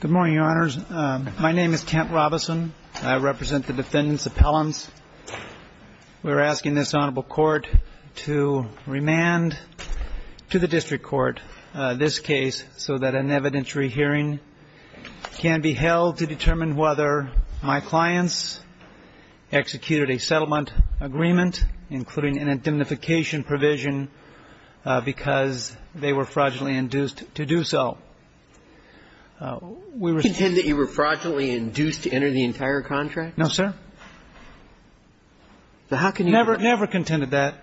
Good morning, your honors. My name is Kent Robison. I represent the defendants' appellants. We're asking this honorable court to remand to the district court this case so that an evidentiary hearing can be held to determine whether my clients executed a settlement agreement, including an indemnification provision, because they were fraudulently induced to do so. We respond to that. You were fraudulently induced to enter the entire contract? No, sir. So how can you never, never contended that?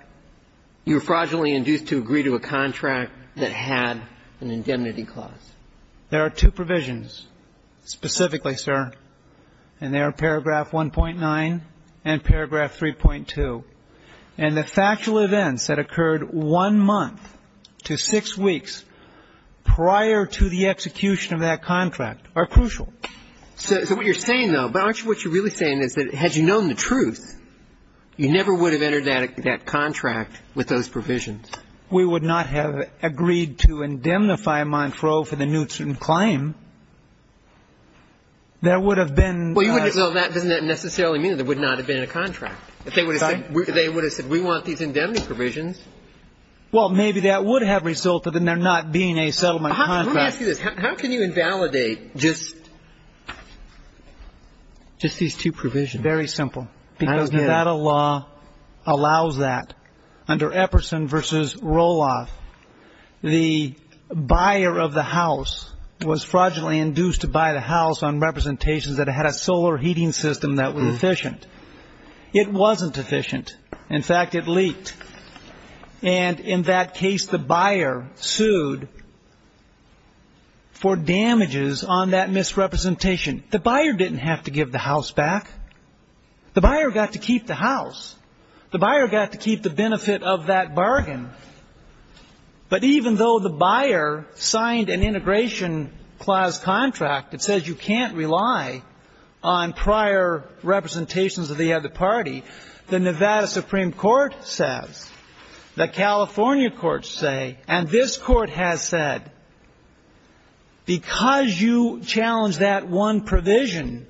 You were fraudulently induced to agree to a contract that had an indemnity clause. There are two provisions specifically, sir. And there are paragraph 1.9 and paragraph 3.2. And the factual events that occurred one month to six weeks prior to the execution of that contract are crucial. So what you're saying, though, but aren't you what you're really saying is that had you known the truth, you never would have entered that contract with those provisions? We would not have agreed to indemnify Montreaux for the Newtson claim. That would have been the best Well, you wouldn't have Well, that doesn't necessarily mean that there would not have been a contract. They would have said we want these indemnity provisions. Well, maybe that would have resulted in there not being a settlement contract. Let me ask you this. How can you invalidate just Just these two provisions. Very simple. Because Nevada law allows that. Under Epperson v. Roloff, the buyer of the house was fraudulently induced to buy the house on representations that had a solar heating system that was efficient. It wasn't efficient. In fact, it leaked. And in that case, the buyer sued for damages on that misrepresentation. The buyer didn't have to give the house back. The buyer got to keep the house. The buyer got to keep the benefit of that bargain. But even though the buyer signed an integration clause contract that says you can't rely on prior representations of the other party, the Nevada Supreme Court says, the California courts say, and this Court has said, because you challenge that one provision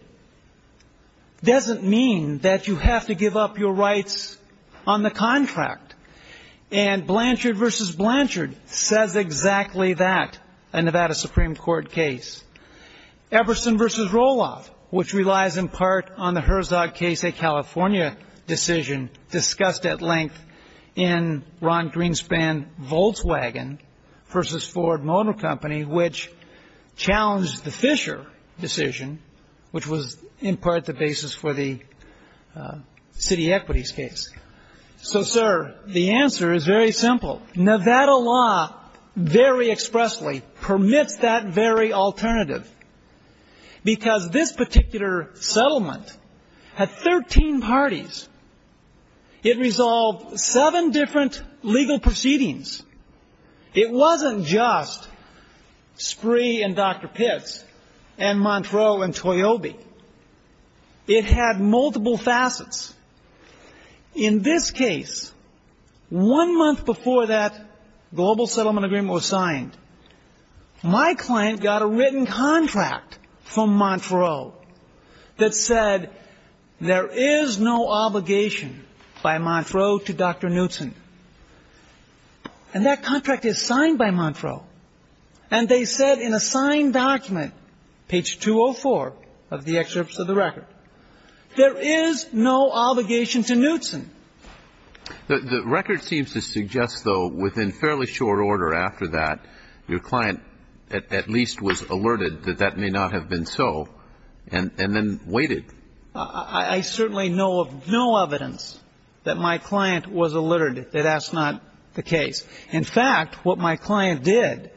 doesn't mean that you have to give up your rights on the contract. And Blanchard v. Blanchard says exactly that, a Nevada Supreme Court case. Epperson v. Roloff, which relies in part on the Herzog case, a California decision discussed at length in Ron Greenspan-Volkswagen v. Ford Motor Company, which challenged the Fisher decision, which was in part the basis for the city equities case. So, sir, the answer is very simple. Nevada law very expressly permits that very alternative. Because this particular settlement had 13 parties. It resolved seven different legal proceedings. It wasn't just Spree and Dr. Pitts and Montreux and Toyobe. It had multiple facets. In this case, one month before that global settlement agreement was signed, my client got a written contract from Montreux that said there is no obligation by Montreux to Dr. Knutson. And that contract is signed by Montreux. And they said in a signed document, page 204 of the excerpts of the record, there is no obligation to Knutson. The record seems to suggest, though, within fairly short order after that, your client at least was alerted that that may not have been so, and then waited. I certainly know of no evidence that my client was alerted that that's not the case. In fact, what my client did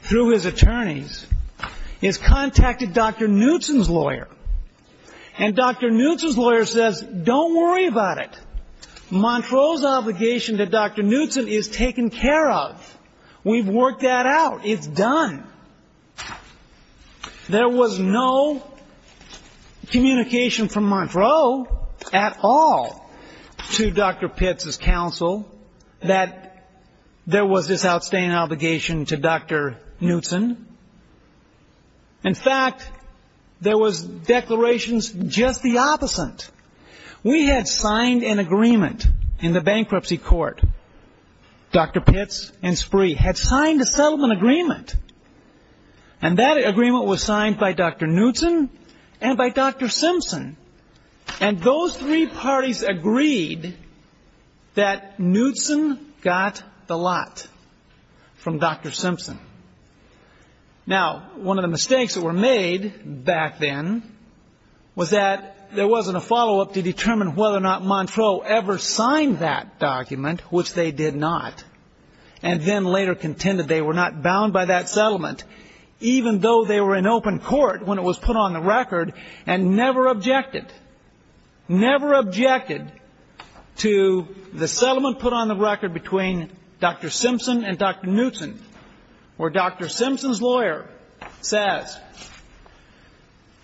through his attorneys is contacted Dr. Knutson's lawyer. And Dr. Knutson's lawyer says, don't worry about it. Montreux's obligation to Dr. Knutson is taken care of. We've worked that out. It's done. There was no communication from Montreux at all to Dr. Knutson's outstanding obligation to Dr. Knutson. In fact, there was declarations just the opposite. We had signed an agreement in the bankruptcy court. Dr. Pitts and Spree had signed a settlement agreement. And that agreement was signed by Dr. Knutson and by Dr. Simpson. And those three parties agreed that Knutson got the lot from Dr. Simpson. Now, one of the mistakes that were made back then was that there wasn't a follow-up to determine whether or not Montreux ever signed that document, which they did not, and then later contended they were not bound by that settlement, even though they were in open court when it was put on the record between Dr. Simpson and Dr. Knutson, where Dr. Simpson's lawyer says,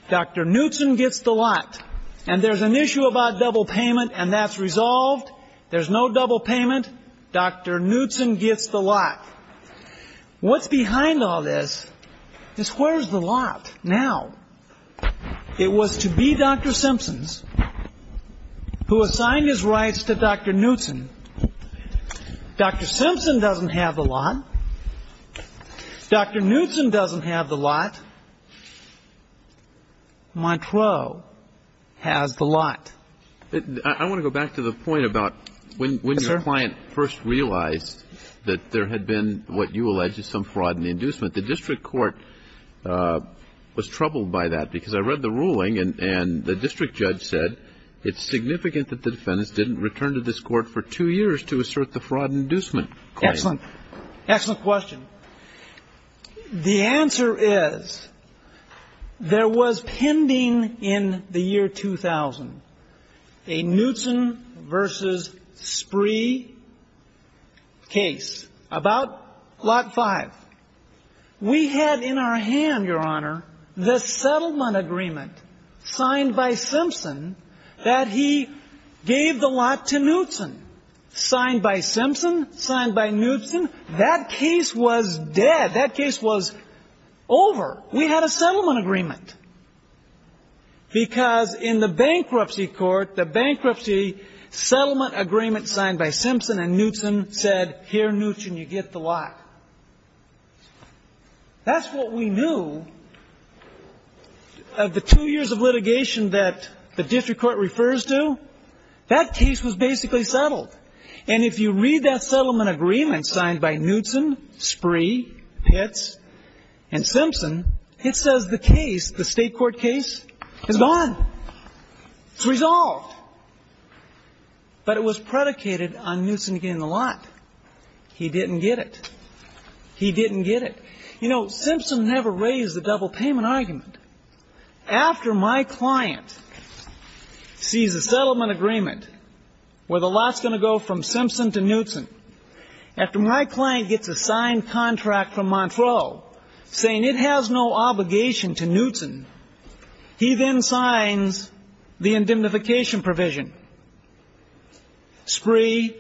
Dr. Knutson gets the lot. And there's an issue about double payment, and that's resolved. There's no double payment. Dr. Knutson gets the lot. What's behind all this is where's the lot now? It was to be Dr. Simpson's who assigned his rights to Dr. Knutson. Dr. Simpson doesn't have the lot. Dr. Knutson doesn't have the lot. Montreux has the lot. I want to go back to the point about when your client first realized that there had been what you allege is some fraud in the inducement, the district court was troubled by that, because I read the ruling, and the district judge said it's significant that the defendants didn't return to this court for two years to assert the fraud inducement claim. Excellent. Excellent question. The answer is there was pending in the year 2000 a Knutson v. Spree case about Lot 5. We had in our hand, Your Honor, the settlement agreement signed by Simpson that he gave the lot to Knutson. Signed by Simpson, signed by Knutson, that case was dead. That case was over. We had a settlement agreement. Because in the bankruptcy court, the bankruptcy settlement agreement signed by Simpson and Knutson said, here, Knutson, you get the lot. That's what we knew of the two years of litigation that the district court refers to. That case was basically settled. And if you read that state court case, it's gone. It's resolved. But it was predicated on Knutson getting the lot. He didn't get it. He didn't get it. You know, Simpson never raised the double payment argument. After my client sees a settlement agreement where the lot's going to go from Simpson to Knutson, after my client gets a signed contract from Montreux saying it has no obligation to Knutson, he then signs the indemnification provision. Spree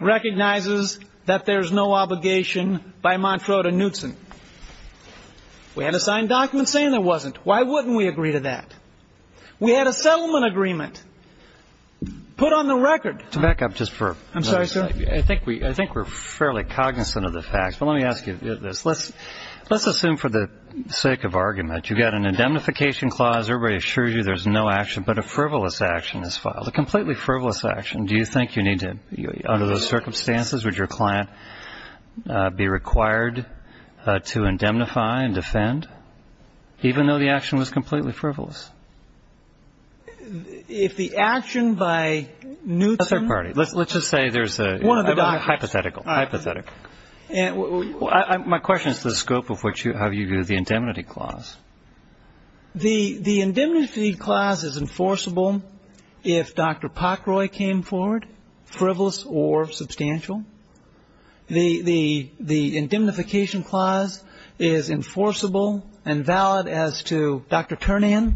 recognizes that there's no obligation by Montreux to Knutson. We had a signed document saying there wasn't. Why wouldn't we agree to that? We had a settlement agreement put on the record. To back up just for a moment. I'm sorry, sir. I think we're fairly cognizant of the facts. But let me ask you this. Let's assume for the sake of argument, you've got an indemnification clause. Everybody assures you there's no action. But a frivolous action is filed. A completely frivolous action. Do you think you need to, under those circumstances, would your client be required to indemnify and defend, even though the action was completely frivolous? If the action by Knutson Let's just say there's a hypothetical. Hypothetical. My question is the scope of how you view the indemnity clause. The indemnity clause is enforceable if Dr. Pockroy came forward, frivolous or substantial. The indemnification clause is enforceable and valid as to Dr. Turnian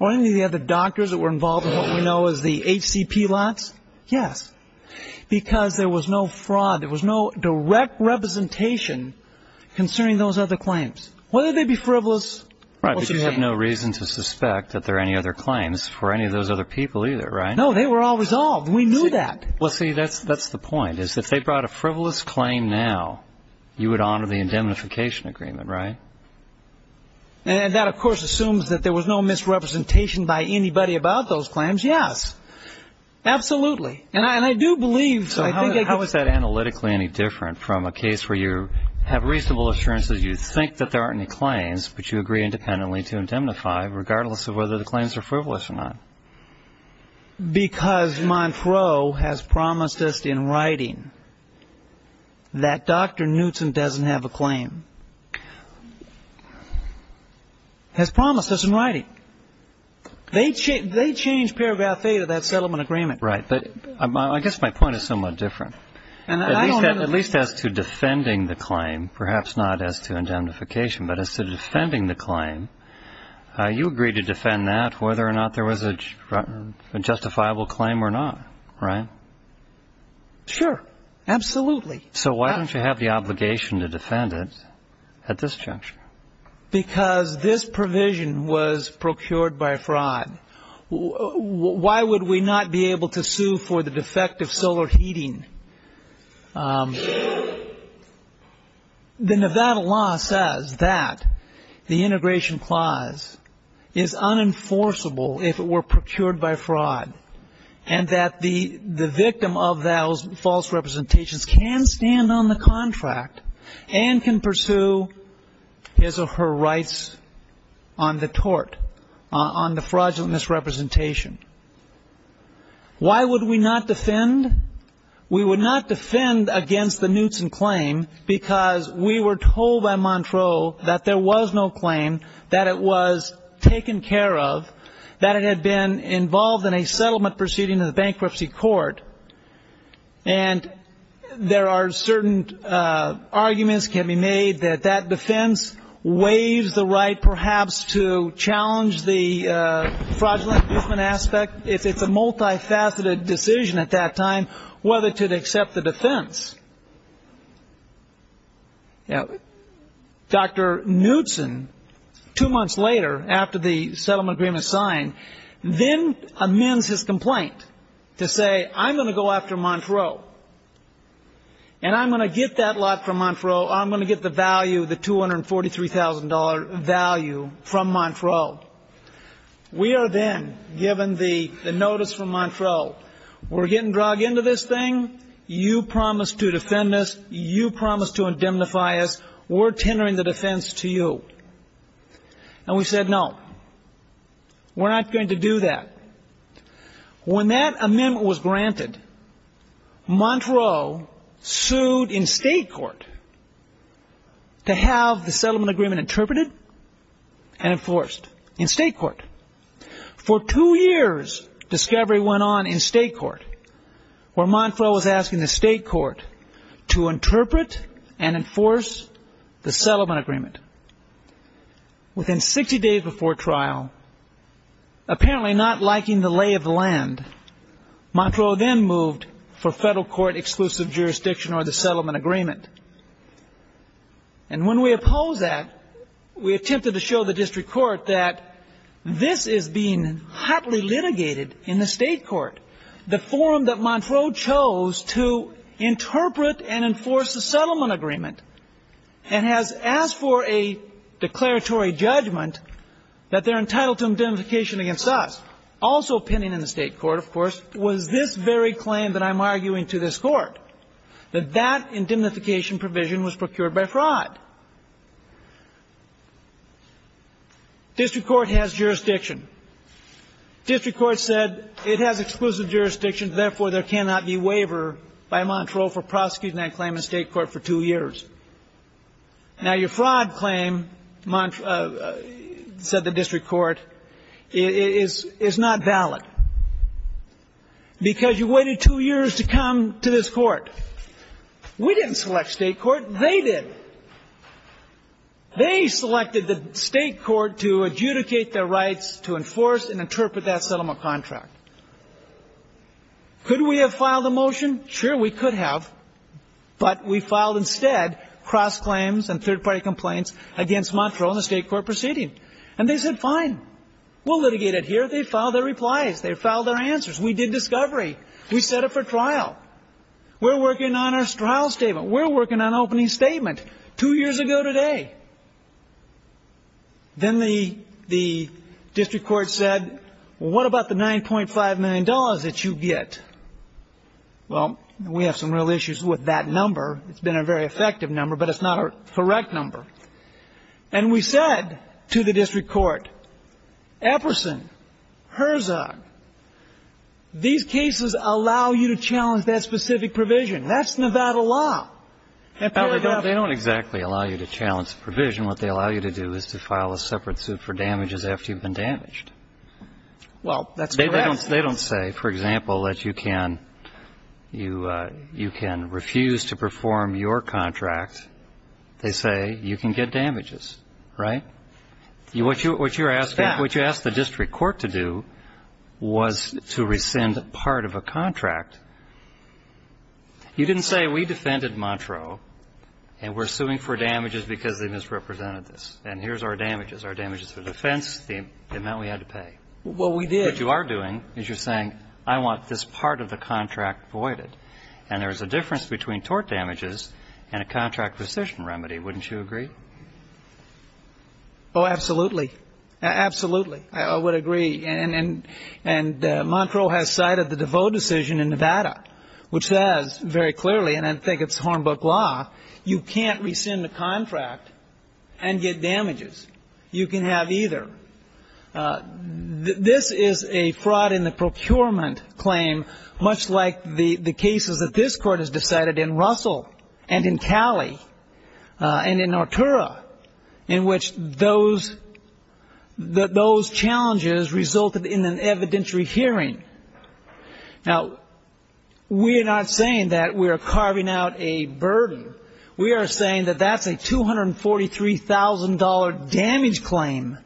or any of the other doctors that were involved in what we know as the HCP lots. Yes. Because there was no fraud. There was no direct representation concerning those other claims. Whether they be frivolous or subpoenaed. Right. But you have no reason to suspect that there are any other claims for any of those other people either, right? No. They were all resolved. We knew that. Well, see, that's the point. If they brought a frivolous claim now, you would honor the indemnification agreement, right? And that, of course, assumes that there was no misrepresentation by anybody about those claims. Yes. Absolutely. And I do believe, so I think I could How is that analytically any different from a case where you have reasonable assurance that you think that there aren't any claims, but you agree independently to indemnify regardless of whether the claims are frivolous or not? Because Montreux has promised us in writing that Dr. Knutson doesn't have a claim. Has promised us in writing. They changed paragraph 8 of that settlement agreement. Right. But I guess my point is somewhat different. At least as to defending the claim, perhaps not as to indemnification, but as to defending the claim, you agreed to defend that whether or not there was a justifiable claim or not, right? Sure. Absolutely. So why don't you have the obligation to defend it at this juncture? Because this provision was procured by fraud. Why would we not be able to sue for the defect of solar heating? The Nevada law says that the integration clause is unenforceable if it were procured by fraud and that the victim of those false representations can stand on the contract and can pursue his or her rights on the tort, on the fraudulent misrepresentation. Why would we not defend? We would not defend against the Knutson claim because we were told by Montreux that there was no claim, that it was taken care of, that it had been involved in a settlement proceeding in the bankruptcy court. And there are certain arguments can be made that that defense waives the right perhaps to challenge the fraudulent equipment aspect if it's a multifaceted decision at that time whether to accept the defense. Dr. Knutson, two months later, after the settlement agreement is signed, then amends his complaint to say, I'm going to go after Montreux. And I'm going to get that lot from Montreux. I'm going to get the value, the $243,000 value from Montreux. We are then given the notice from Montreux. We're getting dragged into this thing. You promised to defend us. You promised to indemnify us. We're tendering the defense to you. And we said, no, we're not going to do that. When that amendment was granted, Montreux sued in state court to have the settlement agreement interpreted and enforced in state court. For two years, discovery went on in state court where Montreux was asking the state court to interpret and enforce the settlement agreement. Within 60 days before trial, apparently not liking the lay of the land, Montreux then moved for federal court exclusive jurisdiction over the settlement agreement. And when we oppose that, we attempted to show the district court that this is being hotly litigated in the state court. The forum that Montreux chose to interpret and enforce the settlement agreement and has asked for a declaratory judgment that they're entitled to indemnification against us, also pending in the state court, of course, was this very claim that I'm arguing to this court, that that indemnification provision was procured by fraud. District court has jurisdiction. District court said it has exclusive jurisdiction, therefore, there cannot be waiver by Montreux for prosecuting that claim in state court for two years. Now, your fraud claim, said the district court, is not valid because you waited two years to come to this court. We didn't select state court. They did. They selected the state court to adjudicate their rights to enforce and interpret that settlement contract. Could we have filed a motion? Sure, we could have. But we filed instead cross claims and third-party complaints against Montreux in a state court proceeding. And they said, fine, we'll litigate it here. They filed their replies. They filed their We set it for trial. We're working on our trial statement. We're working on opening statement two years ago today. Then the district court said, well, what about the $9.5 million that you get? Well, we have some real issues with that number. It's been a very effective number, but it's not a correct number. And we said to the district court, Epperson, Herzog, these cases allow you to challenge that specific provision. That's Nevada law. And they don't exactly allow you to challenge the provision. What they allow you to do is to file a separate suit for damages after you've been damaged. Well, that's correct. They don't say, for example, that you can refuse to perform your contract. They say you can get damages, right? What you're asking, what you asked the district court to do was to rescind part of a contract. You didn't say we defended Montreux and we're suing for damages because they misrepresented this. And here's our damages, our damages for defense, the amount we had to pay. Well, we did. What you are doing is you're saying, I want this part of the contract voided. And there's a difference between tort damages and a contract rescission remedy. Wouldn't you agree? Oh, absolutely. Absolutely. I would agree. And Montreux has cited the DeVos decision in Nevada, which says very clearly, and I think it's Hornbook law, you can't rescind the contract and get damages. You can have either. This is a fraud in the procurement claim, much like the cases that this court has decided in Russell and in Cali and in Artura, in which those challenges resulted in an evidentiary hearing. Now, we are not saying that we are carving out a burden. We are saying that that's a $243,000 damage claim.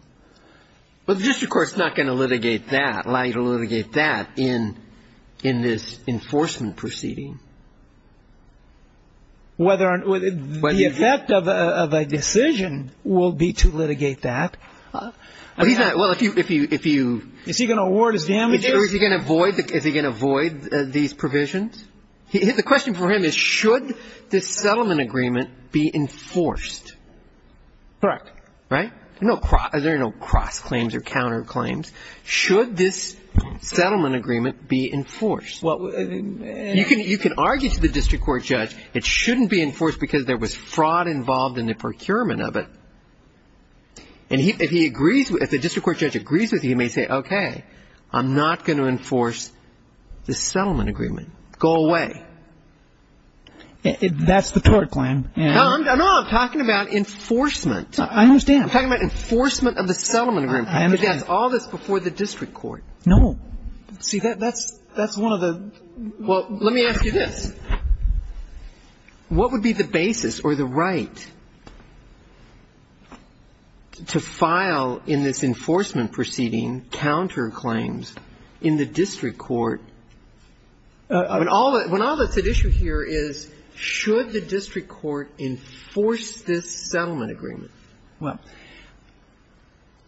Well, the district court is not going to litigate that, allow you to litigate that in this enforcement proceeding. The effect of a decision will be to litigate that. Is he going to award his damages? Is he going to void these provisions? The question for him is, should this settlement agreement be enforced? Correct. Right? There are no cross claims or counter claims. Should this settlement agreement be enforced? Well, you can argue to the district court judge it shouldn't be enforced because there was fraud involved in the procurement of it. And if he agrees, if the district court judge agrees with you, he may say, okay, I'm not going to enforce this settlement agreement. Go away. That's the tort plan. No, I'm talking about enforcement. I understand. I'm talking about enforcement of the settlement agreement. I understand. Because that's all this before the district court. No. See, that's one of the – well, let me ask you this. What would be the basis or the right to file in this enforcement proceeding counter claims in the district court – when all that's at issue here is, should the district court enforce this settlement agreement? Well,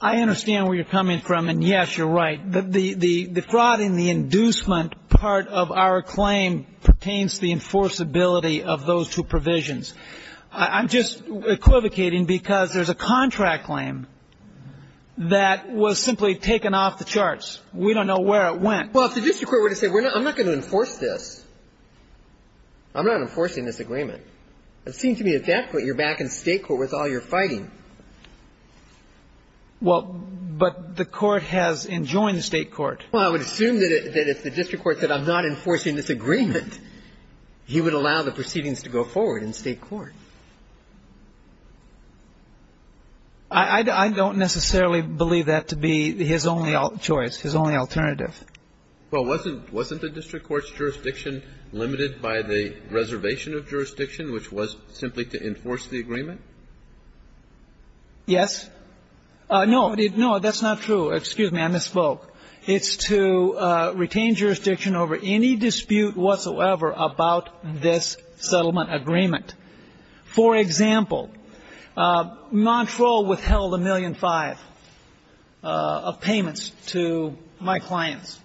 I understand where you're coming from, and, yes, you're right. The fraud in the inducement part of our claim pertains to the enforceability of those two provisions. I'm just equivocating because there's a contract claim that was simply taken off the charts. We don't know where it went. Well, if the district court were to say, I'm not going to enforce this, I'm not enforcing this agreement, it would seem to me that that's what you're back in state court with all your fighting. Well, but the court has enjoined the state court. Well, I would assume that if the district court said, I'm not enforcing this agreement, he would allow the proceedings to go forward in state court. I don't necessarily believe that to be his only choice, his only alternative. Well, wasn't the district court's jurisdiction limited by the reservation of jurisdiction, which was simply to enforce the agreement? Yes. No, that's not true. Excuse me. I misspoke. It's to retain jurisdiction over any dispute whatsoever about this settlement agreement. For example, Montreaux withheld a million five of payments to my clients.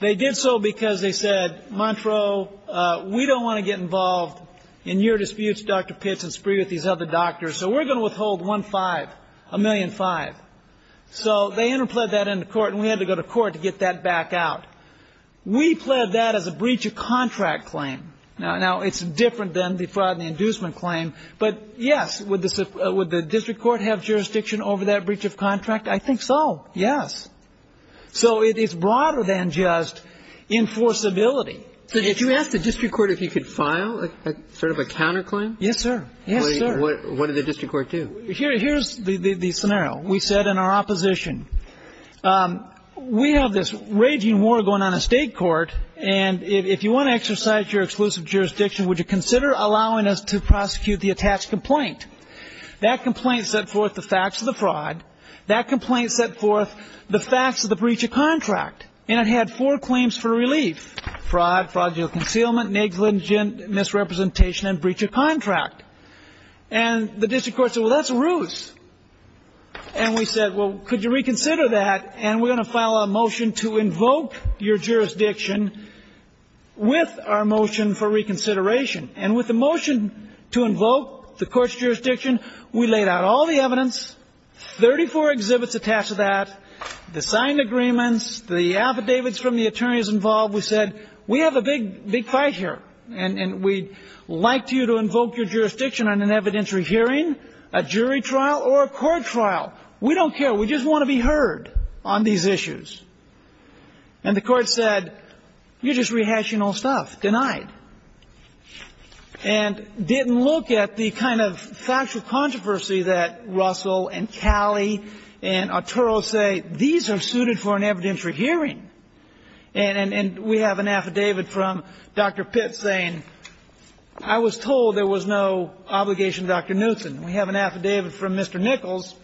They did so because they said, Montreaux, we don't want to get involved in your disputes, Dr. Pitts, and spree with these other doctors, so we're going to withhold one five, a million five. So they interpled that into court and we had to go to court to get that back out. We pled that as a breach of contract claim. Now, it's different than the fraud and the inducement claim, but yes, would the district court have jurisdiction over that breach of contract? I think so, yes. So it's broader than just enforceability. So if you asked the district court if he could file sort of a counterclaim? Yes, sir. Yes, sir. What did the district court do? Here's the scenario. We said in our opposition, we have this raging war going on in state court, and if you want to exercise your exclusive jurisdiction, would you consider allowing us to prosecute the attached complaint? That complaint set forth the facts of the fraud. That complaint set forth the facts of the breach of contract, and it had four claims for relief, fraud, fraudulent concealment, negligent misrepresentation, and breach of contract. And the district court said, well, that's a ruse. And we said, well, could you reconsider that? And we're going to file a motion to invoke your jurisdiction with our motion for reconsideration. And with the motion to invoke the court's jurisdiction, we laid out all the evidence, 34 exhibits attached to that, the signed agreements, the affidavits from the attorneys involved. We said, we have a big fight here, and we'd like you to invoke your jurisdiction on an evidentiary hearing, a jury trial, or a court trial. We don't care. We just want to be heard on these issues. And the court said, you're just rehashing old stuff, denied. And didn't look at the kind of factual controversy that Russell and Calley and Arturo say, these are suited for an evidentiary hearing. And we have an affidavit from Dr. Pitt saying, I was told there was no obligation to Dr. Knutson. We have an affidavit from Mr. Nichols,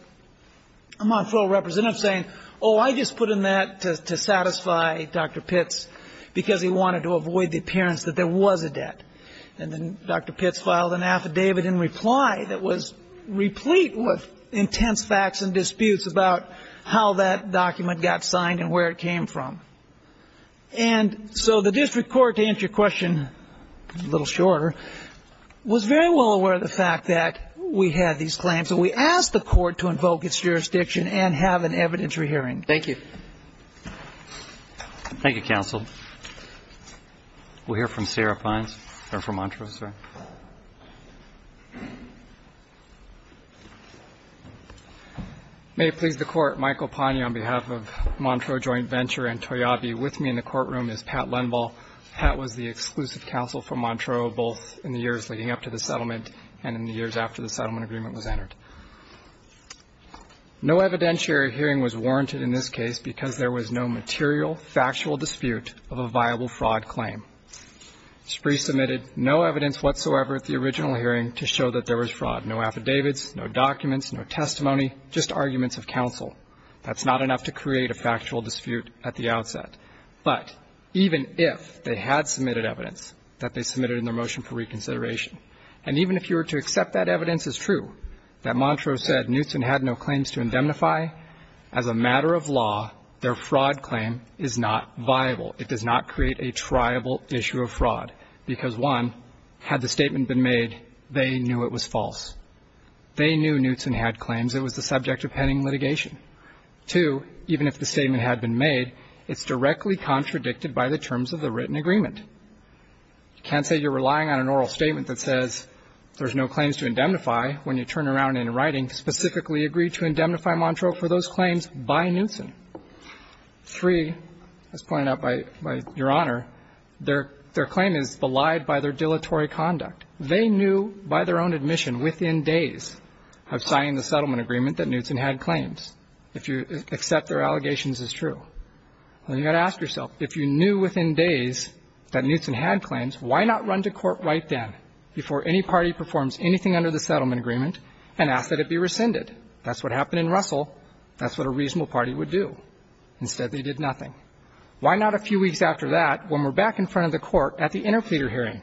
a Montreux representative, saying, oh, I just put in that to satisfy Dr. Pitt's, because he wanted to avoid the appearance that there was a debt. And then Dr. Pitt filed an affidavit in reply that was replete with intense facts and disputes about how that document got signed and where it came from. And so the district court, to answer your question a little shorter, was very well aware of the fact that we had these claims. And we asked the court to invoke its jurisdiction and have an evidentiary hearing. Thank you. Thank you, counsel. We'll hear from Sarah Pines, or from Montreux, sorry. May it please the court, Michael Pagni on behalf of Montreux Joint Venture and Toyabe. With me in the courtroom is Pat Lenball. Pat was the exclusive counsel for Montreux, both in the years leading up to the settlement and in the years after the settlement agreement was entered. No evidentiary hearing was warranted in this case because there was no material, factual dispute of a viable fraud claim. SPRE submitted no evidence whatsoever at the original hearing to show that there was fraud, no affidavits, no documents, no testimony, just arguments of counsel. That's not enough to create a factual dispute at the outset. But even if they had submitted evidence that they submitted in their motion for reconsideration, and even if you were to accept that evidence is true, that Montreux said Knutson had no claims to indemnify, as a matter of law, their fraud claim is not viable. It does not create a triable issue of fraud because, one, had the statement been made, they knew it was false. They knew Knutson had claims. It was the subject of pending litigation. Two, even if the statement had been made, it's directly contradicted by the terms of the written agreement. You can't say you're relying on an oral statement that says there's no claims to indemnify when you turn around in writing specifically agree to indemnify Montreux for those claims by Knutson. Three, as pointed out by Your Honor, their claim is belied by their dilatory conduct. They knew by their own admission within days of signing the settlement agreement that Knutson had claims, if you accept their allegations as true. Well, you've got to ask yourself, if you knew within days that Knutson had claims, why not run to court right then before any party performs anything under the settlement agreement and ask that it be rescinded? That's what happened in Russell. That's what a reasonable party would do. Instead, they did nothing. Why not a few weeks after that, when we're back in front of the court at the interpleader hearing,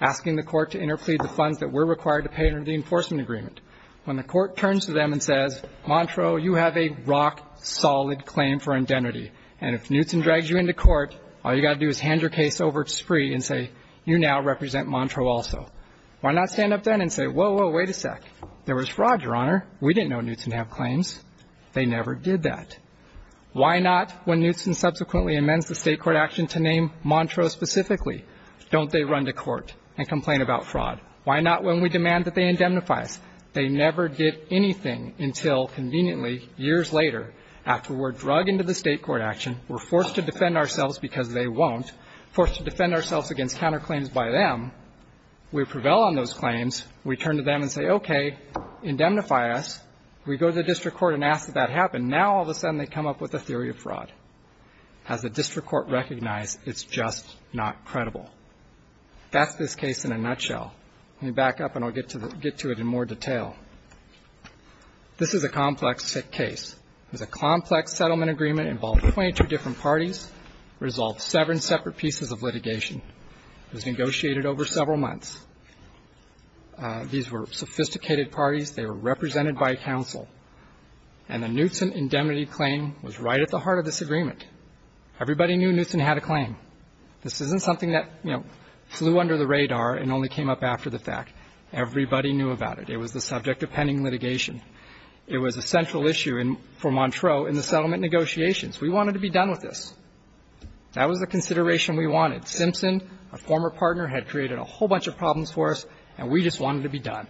asking the court to interplead the funds that were required to pay under the enforcement agreement, when the court turns to them and says, Montreux, you have a rock-solid claim for indemnity? And if Knutson drags you into court, all you've got to do is hand your case over to Spree and say, you now represent Montreux also. Why not stand up then and say, whoa, whoa, wait a sec. There was fraud, Your Honor. We didn't know Knutson had claims. They never did that. Why not when Knutson subsequently amends the State court action to name Montreux specifically, don't they run to court and complain about fraud? Why not when we demand that they indemnify us? They never did anything until, conveniently, years later, after we're drug into the State court action, we're forced to defend ourselves because they won't, forced to defend ourselves against counterclaims by them. We prevail on those claims. We turn to them and say, okay, indemnify us. We go to the district court and ask that that happen. Now, all of a sudden, they come up with a theory of fraud. Has the district court recognized it's just not credible? That's this case in a nutshell. Let me back up and I'll get to it in more detail. This is a complex case. It was a complex settlement agreement involving 22 different parties, resolved seven separate pieces of litigation. It was negotiated over several months. These were sophisticated parties. They were represented by counsel. And the Knutson indemnity claim was right at the heart of this agreement. Everybody knew Knutson had a claim. This isn't something that, you know, flew under the radar and only came up after the fact. Everybody knew about it. It was the subject of pending litigation. It was a central issue for Montreux in the settlement negotiations. We wanted to be done with this. That was the consideration we wanted. Simpson, our former partner, had created a whole bunch of problems for us, and we just wanted to be done.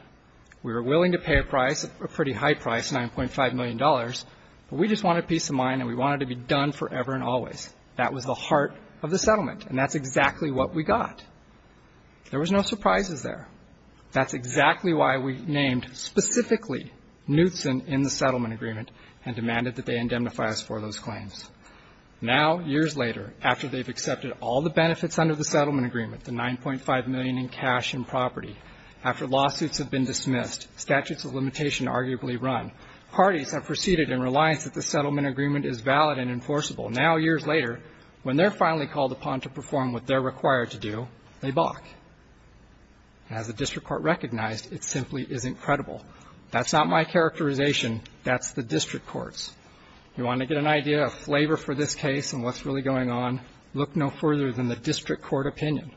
We were willing to pay a price, a pretty high price, $9.5 million, but we just wanted peace of mind and we wanted to be done forever and always. That was the heart of the settlement, and that's exactly what we got. There was no surprises there. That's exactly why we named specifically Knutson in the settlement agreement and demanded that they indemnify us for those claims. Now, years later, after they've accepted all the benefits under the settlement agreement, the $9.5 million in cash and property, after lawsuits have been dismissed, statutes of limitation arguably run, parties have proceeded in reliance that the settlement agreement is valid and enforceable. Now, years later, when they're finally called upon to perform what they're required to do, they balk. As the district court recognized, it simply isn't credible. That's not my characterization. That's the district court's. You want to get an idea, a flavor for this case and what's really going on? Look no further than the district court opinion.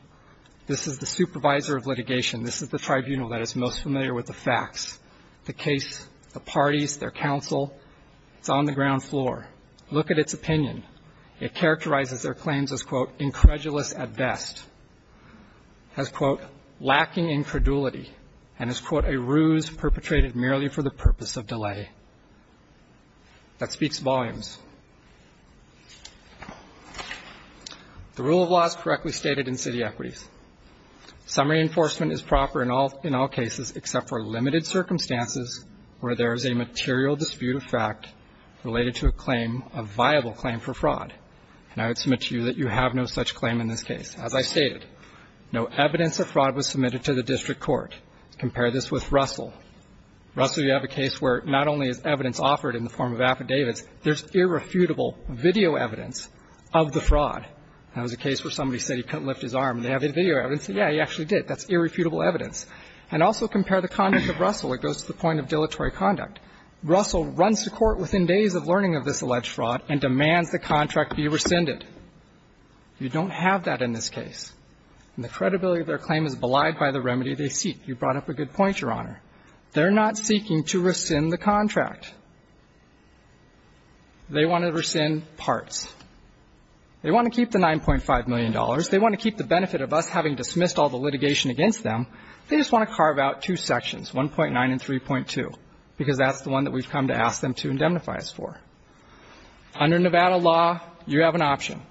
This is the supervisor of litigation. This is the tribunal that is most familiar with the facts. The case, the parties, their counsel, it's on the ground floor. Look at its opinion. It characterizes their claims as, quote, incredulous at best. As, quote, lacking in credulity. And as, quote, a ruse perpetrated merely for the purpose of delay. That speaks volumes. The rule of law is correctly stated in city equities. Some reinforcement is proper in all cases except for limited circumstances where there is a material dispute of fact related to a claim, a viable claim for fraud, and I would submit to you that you have no such claim in this case. As I stated, no evidence of fraud was submitted to the district court. Compare this with Russell. Russell, you have a case where not only is evidence offered in the form of affidavits, there's irrefutable video evidence of the fraud. That was a case where somebody said he couldn't lift his arm and they have the video evidence. Yeah, he actually did. That's irrefutable evidence. And also compare the conduct of Russell. It goes to the point of dilatory conduct. Russell runs to court within days of learning of this alleged fraud and demands the contract be rescinded. You don't have that in this case. And the credibility of their claim is belied by the remedy they seek. You brought up a good point, Your Honor. They're not seeking to rescind the contract. They want to rescind parts. They want to keep the $9.5 million. They want to keep the benefit of us having dismissed all the litigation against them. They just want to carve out two sections, 1.9 and 3.2, because that's the one that we've come to ask them to indemnify us for. Under Nevada law, you have an option.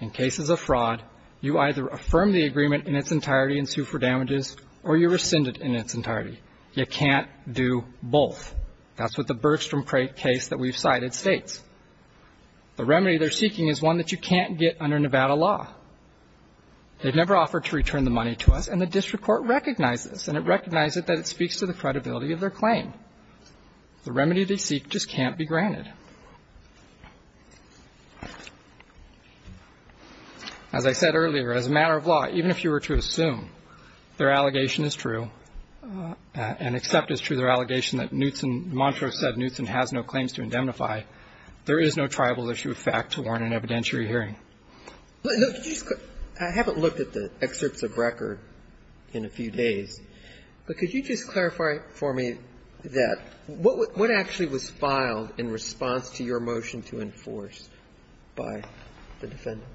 In cases of fraud, you either affirm the agreement in its entirety and sue for damages, or you rescind it in its entirety. You can't do both. That's what the Bergstrom case that we've cited states. The remedy they're seeking is one that you can't get under Nevada law. They've never offered to return the money to us, and the district court recognized this. And it recognized that it speaks to the credibility of their claim. The remedy they seek just can't be granted. As I said earlier, as a matter of law, even if you were to assume their allegation is true, and accept it's true, their allegation that Newtson, Montrose said, Newtson has no claims to indemnify. There is no tribal issue of fact to warrant an evidentiary hearing. I haven't looked at the excerpts of record in a few days. But could you just clarify for me that what actually was filed in response to your motion to enforce by the defendants?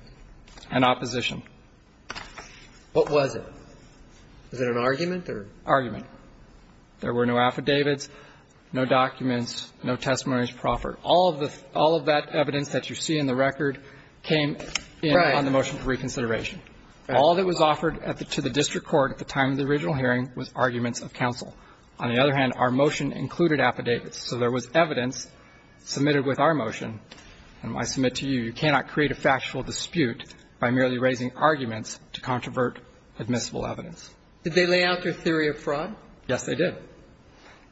An opposition. What was it? Was it an argument or? Argument. There were no affidavits, no documents, no testimonies proffered. All of that evidence that you see in the record came in on the motion for reconsideration. All that was offered to the district court at the time of the original hearing was arguments of counsel. On the other hand, our motion included affidavits. So there was evidence submitted with our motion. And I submit to you, you cannot create a factual dispute by merely raising arguments to controvert admissible evidence. Did they lay out their theory of fraud? Yes, they did.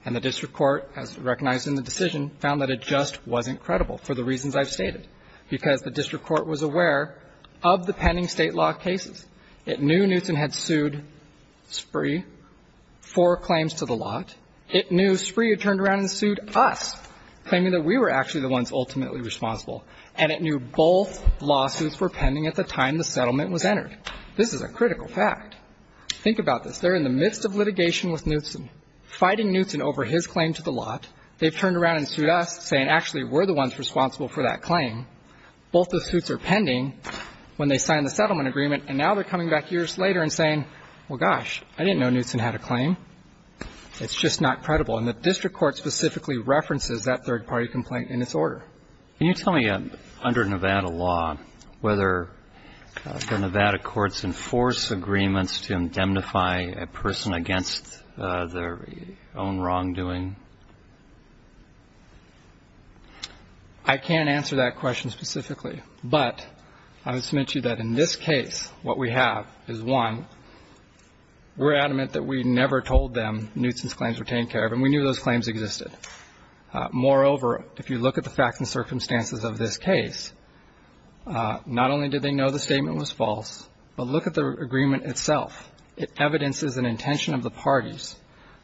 And the district court, as recognized in the decision, found that it just wasn't credible for the reasons I've stated. Because the district court was aware of the pending state law cases. It knew Newtson had sued Spree for claims to the lot. It knew Spree had turned around and sued us, claiming that we were actually the ones ultimately responsible. And it knew both lawsuits were pending at the time the settlement was entered. This is a critical fact. Think about this. They're in the midst of litigation with Newtson, fighting Newtson over his claim to the lot. They've turned around and sued us, saying, actually, we're the ones responsible for that claim. Both the suits are pending when they sign the settlement agreement. And now they're coming back years later and saying, well, gosh, I didn't know Newtson had a claim. It's just not credible. And the district court specifically references that third-party complaint in its order. Can you tell me, under Nevada law, whether the Nevada courts enforce agreements to indemnify a person against their own wrongdoing? I can't answer that question specifically. But I would submit to you that in this case, what we have is, one, we're adamant that we never told them Newtson's claims were taken care of, and we knew those claims existed. Moreover, if you look at the facts and circumstances of this case, not only did they know the statement was false, but look at the agreement itself. It evidences an intention of the parties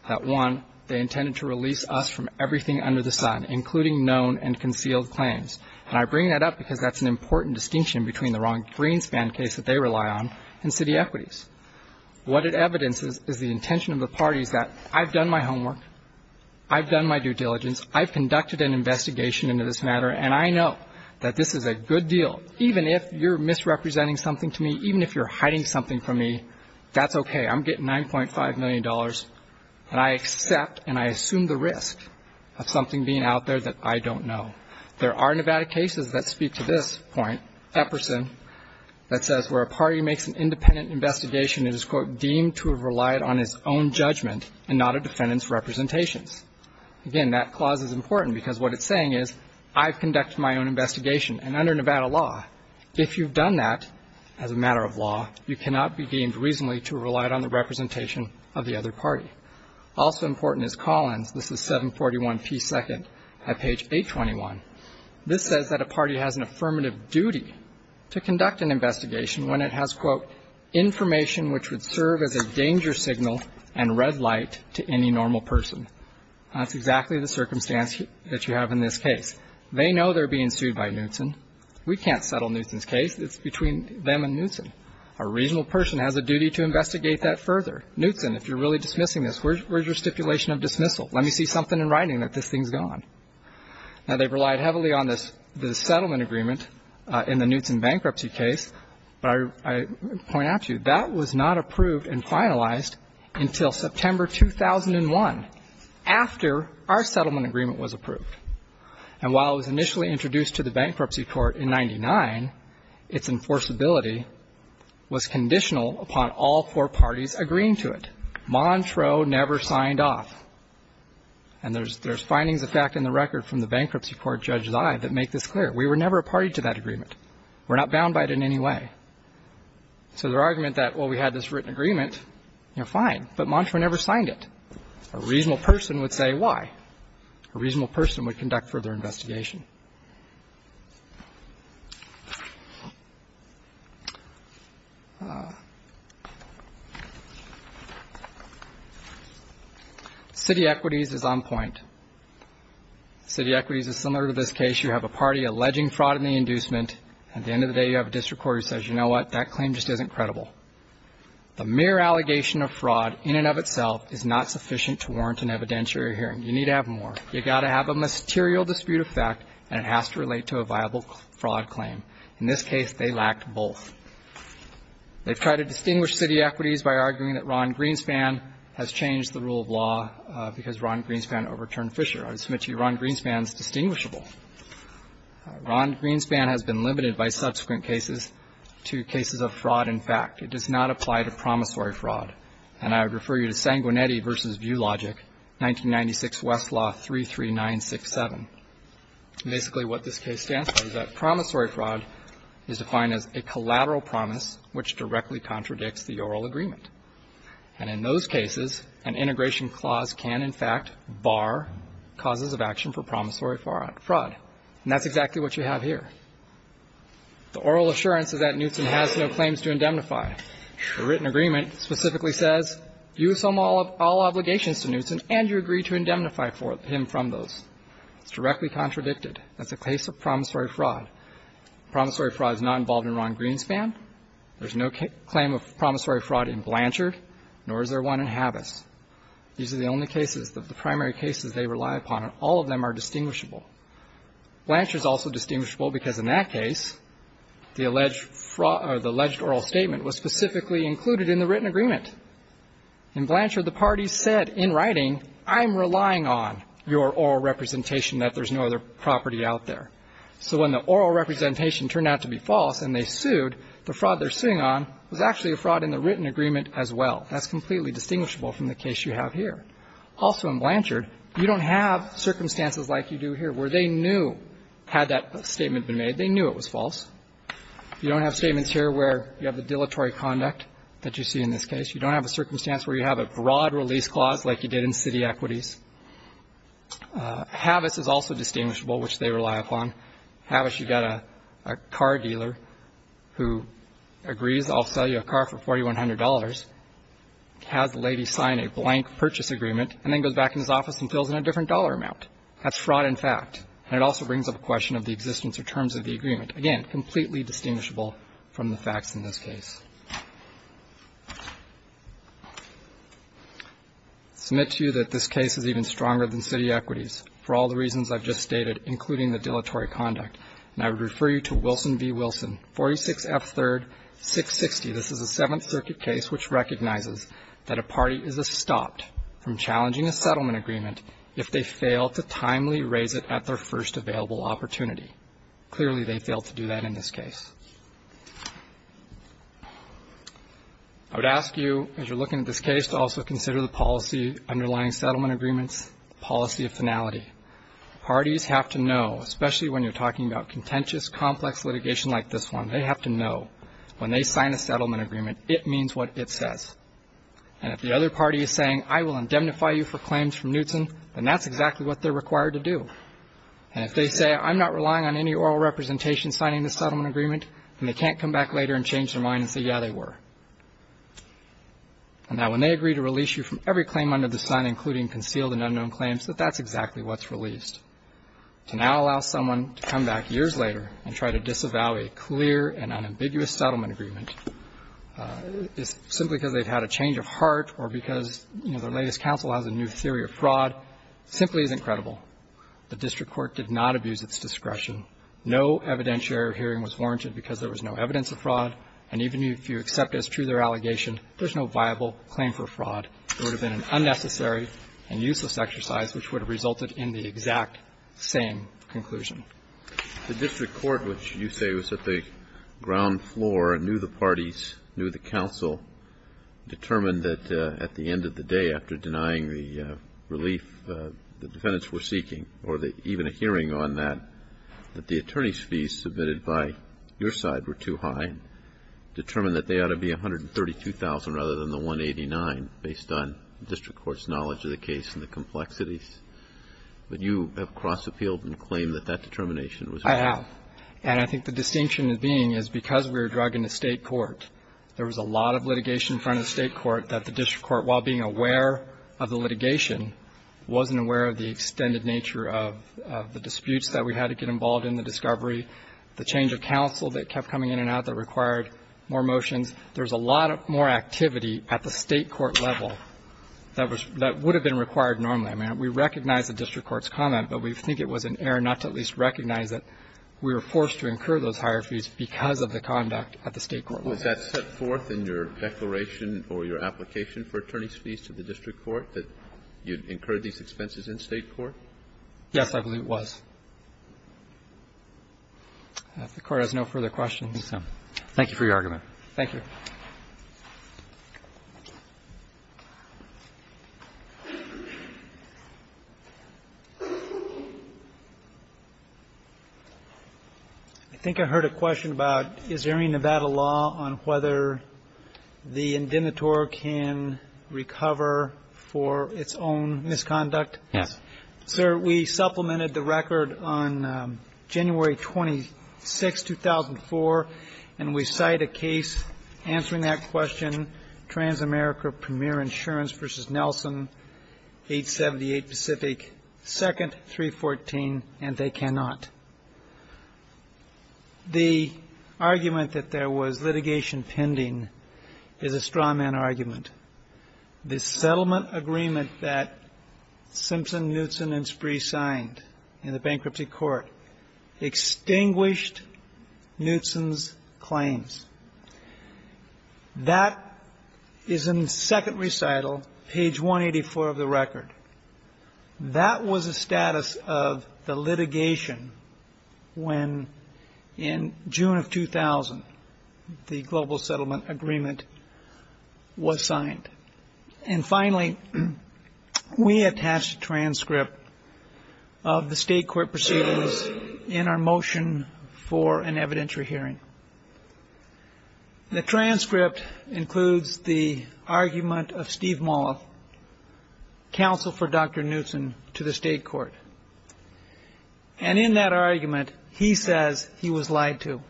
that, one, they intended to release us from everything under the sun, including known and concealed claims. And I bring that up because that's an important distinction between the wrong greenspan case that they rely on and city equities. What it evidences is the intention of the parties that I've done my homework, I've done my due diligence, I've conducted an investigation into this matter, and I know that this is a good deal. Even if you're misrepresenting something to me, even if you're hiding something from me, that's okay. I'm getting $9.5 million, and I accept and I assume the risk of something being out there that I don't know. There are Nevada cases that speak to this point, Epperson, that says where a party makes an independent investigation, it is, quote, deemed to have relied on its own judgment and not a defendant's representations. Again, that clause is important because what it's saying is I've conducted my own investigation. And under Nevada law, if you've done that as a matter of law, you cannot be deemed reasonably to have relied on the representation of the other party. Also important is Collins. This is 741p2 at page 821. This says that a party has an affirmative duty to conduct an investigation when it has, quote, information which would serve as a danger signal and red light to any normal person. That's exactly the circumstance that you have in this case. They know they're being sued by Knutson. We can't settle Knutson's case. It's between them and Knutson. A reasonable person has a duty to investigate that further. Knutson, if you're really dismissing this, where's your stipulation of dismissal? Let me see something in writing that this thing's gone. Now, they've relied heavily on this settlement agreement in the Knutson bankruptcy case. But I point out to you, that was not approved and finalized until September 2001, after our settlement agreement was approved. And while it was initially introduced to the bankruptcy court in 99, its enforceability was conditional upon all four parties agreeing to it. Montreux never signed off. And there's findings, in fact, in the record from the bankruptcy court, Judge Zive, that make this clear. We were never a party to that agreement. We're not bound by it in any way. So their argument that, well, we had this written agreement, you know, fine. But Montreux never signed it. A reasonable person would say why. A reasonable person would conduct further investigation. City equities is on point. City equities is similar to this case. You have a party alleging fraud in the inducement. At the end of the day, you have a district court who says, you know what, that claim just isn't credible. The mere allegation of fraud in and of itself is not sufficient to warrant an evidentiary hearing. You need to have more. You've got to have a material dispute of fact. And it has to relate to a viable fraud claim. In this case, they lacked both. They've tried to distinguish city equities by arguing that Ron Greenspan has changed the rule of law because Ron Greenspan overturned Fisher. I would submit to you Ron Greenspan is distinguishable. Ron Greenspan has been limited by subsequent cases to cases of fraud in fact. It does not apply to promissory fraud. And I would refer you to Sanguinetti v. ViewLogic, 1996 Westlaw 33967. Basically what this case stands for is that promissory fraud is defined as a collateral promise which directly contradicts the oral agreement. And in those cases, an integration clause can in fact bar causes of action for promissory fraud. And that's exactly what you have here. The oral assurance is that Newson has no claims to indemnify. The written agreement specifically says you assume all obligations to Newson and you agree to indemnify him from those. It's directly contradicted. That's a case of promissory fraud. Promissory fraud is not involved in Ron Greenspan. There's no claim of promissory fraud in Blanchard, nor is there one in Habas. These are the only cases, the primary cases they rely upon, and all of them are distinguishable. Blanchard is also distinguishable because in that case, the alleged fraud or the alleged oral statement was specifically included in the written agreement. In Blanchard, the parties said in writing, I'm relying on your oral representation that there's no other property out there. So when the oral representation turned out to be false and they sued, the fraud they're suing on was actually a fraud in the written agreement as well. That's completely distinguishable from the case you have here. Also in Blanchard, you don't have circumstances like you do here where they knew, had that statement been made, they knew it was false. You don't have statements here where you have the dilatory conduct that you see in this case. You don't have a circumstance where you have a broad release clause like you did in city equities. Habas is also distinguishable, which they rely upon. Habas, you've got a car dealer who agrees I'll sell you a car for $4,100, has the lady sign a blank purchase agreement, and then goes back in his office and fills in a different dollar amount. That's fraud in fact. And it also brings up a question of the existence or terms of the agreement. Again, completely distinguishable from the facts in this case. Submit to you that this case is even stronger than city equities for all the reasons I've just stated, including the dilatory conduct. And I would refer you to Wilson v. Wilson, 46F3-660. This is a Seventh Circuit case which recognizes that a party is stopped from challenging a settlement agreement if they fail to timely raise it at their first available opportunity. Clearly they failed to do that in this case. I would ask you, as you're looking at this case, to also consider the policy underlying settlement agreements, the policy of finality. Parties have to know, especially when you're talking about contentious, complex litigation like this one, they have to know when they sign a settlement agreement, it means what it says. And if the other party is saying I will indemnify you for claims from Knutson, then that's exactly what they're required to do. And if they say I'm not relying on any oral representation signing this settlement agreement, then they can't come back later and change their mind and say, yeah, they were. And now when they agree to release you from every claim under the sun, including concealed and unknown claims, that that's exactly what's released. To now allow someone to come back years later and try to disavow a clear and unambiguous settlement agreement simply because they've had a change of heart or because, you know, the latest counsel has a new theory of fraud simply isn't credible. The district court did not abuse its discretion. No evidentiary hearing was warranted because there was no evidence of fraud. And even if you accept as true their allegation, there's no viable claim for fraud. It would have been an unnecessary and useless exercise which would have resulted in the exact same conclusion. The district court, which you say was at the ground floor, knew the parties, knew the counsel, determined that at the end of the day, after denying the relief the defendants were seeking or even a hearing on that, that the attorney's fees submitted by your side were too high and determined that they ought to be $132,000 rather than the $189,000 based on district court's knowledge of the case and the complexities. But you have crossed the field and claimed that that determination was wrong. I have. And I think the distinction being is because we were drug in the state court, there was a lot of litigation in front of the state court that the district court, while being aware of the litigation, wasn't aware of the extended nature of the disputes that we had to get involved in, the discovery, the change of counsel that kept coming in and out that required more motions. There was a lot more activity at the state court level that would have been required normally. I mean, we recognize the district court's comment, but we think it was an error not to at least recognize that we were forced to incur those higher fees because of the conduct at the state court level. Kennedy. Was that set forth in your declaration or your application for attorney's fees to the district court, that you incurred these expenses in state court? Yes, I believe it was. If the Court has no further questions. Thank you for your argument. Thank you. I think I heard a question about is there any Nevada law on whether the indemnitor can recover for its own misconduct? Sir, we supplemented the record on January 26, 2004, and we cite a case answering that question, Transamerica Premier Insurance v. Nelson, 878 Pacific, second 314, and they cannot. The argument that there was litigation pending is a straw man argument. The settlement agreement that Simpson, Knutson, and Spree signed in the bankruptcy court extinguished Knutson's claims. That is in second recital, page 184 of the record. That was the status of the litigation when, in June of 2000, the global settlement agreement was signed. And finally, we attached a transcript of the state court proceedings in our motion for an evidentiary hearing. The transcript includes the argument of Steve Molleth, counsel for Dr. Knutson, to the state court. And in that argument, he says he was lied to.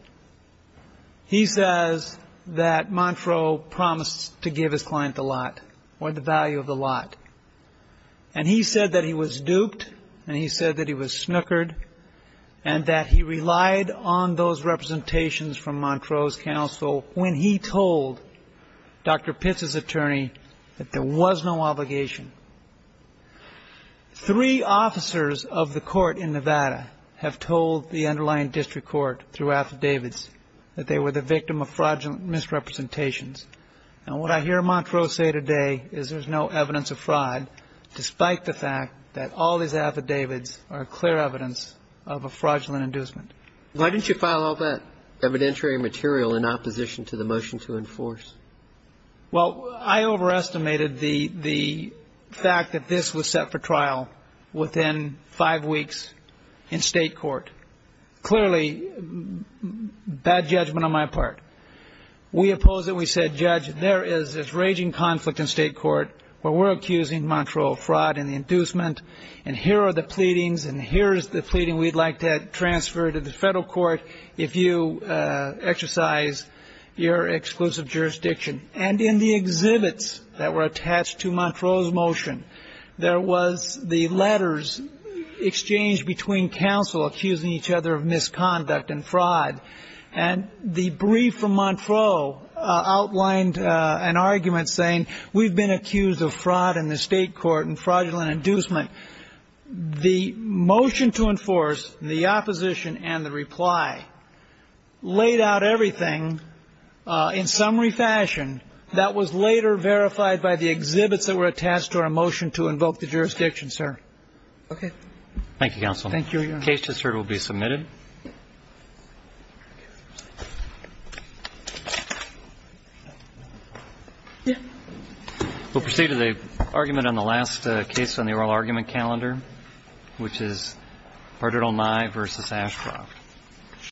He says that Montreaux promised to give his client the lot, or the value of the lot. And he said that he was duped, and he said that he was snookered, and that he relied on those representations from Montreaux's counsel when he told Dr. Pitts's attorney that there was no obligation. Three officers of the court in Nevada have told the underlying district court through affidavits that they were the victim of fraudulent misrepresentations. And what I hear Montreaux say today is there's no evidence of fraud, despite the fact that all these affidavits are clear evidence of a fraudulent inducement. Why didn't you file all that evidentiary material in opposition to the motion to enforce? Well, I overestimated the fact that this was set for trial within five weeks in state court. Clearly, bad judgment on my part. We opposed it. We said, Judge, there is this raging conflict in state court where we're accusing Montreaux of fraud and inducement, and here are the pleadings, and here is the pleading we'd like to transfer to the federal court if you exercise your exclusive jurisdiction. And in the exhibits that were attached to Montreaux's motion, there was the letters exchanged between counsel accusing each other of misconduct and fraud. And the brief from Montreaux outlined an argument saying, we've been accused of fraud in the state court and fraudulent inducement. The motion to enforce, the opposition and the reply laid out everything in summary fashion that was later verified by the exhibits that were attached to our motion to invoke the jurisdiction, sir. Okay. Thank you, counsel. Thank you, Your Honor. The case just heard will be submitted. We'll proceed to the argument on the last case on the oral argument calendar, which is Verdict on Nye v. Ashcroft.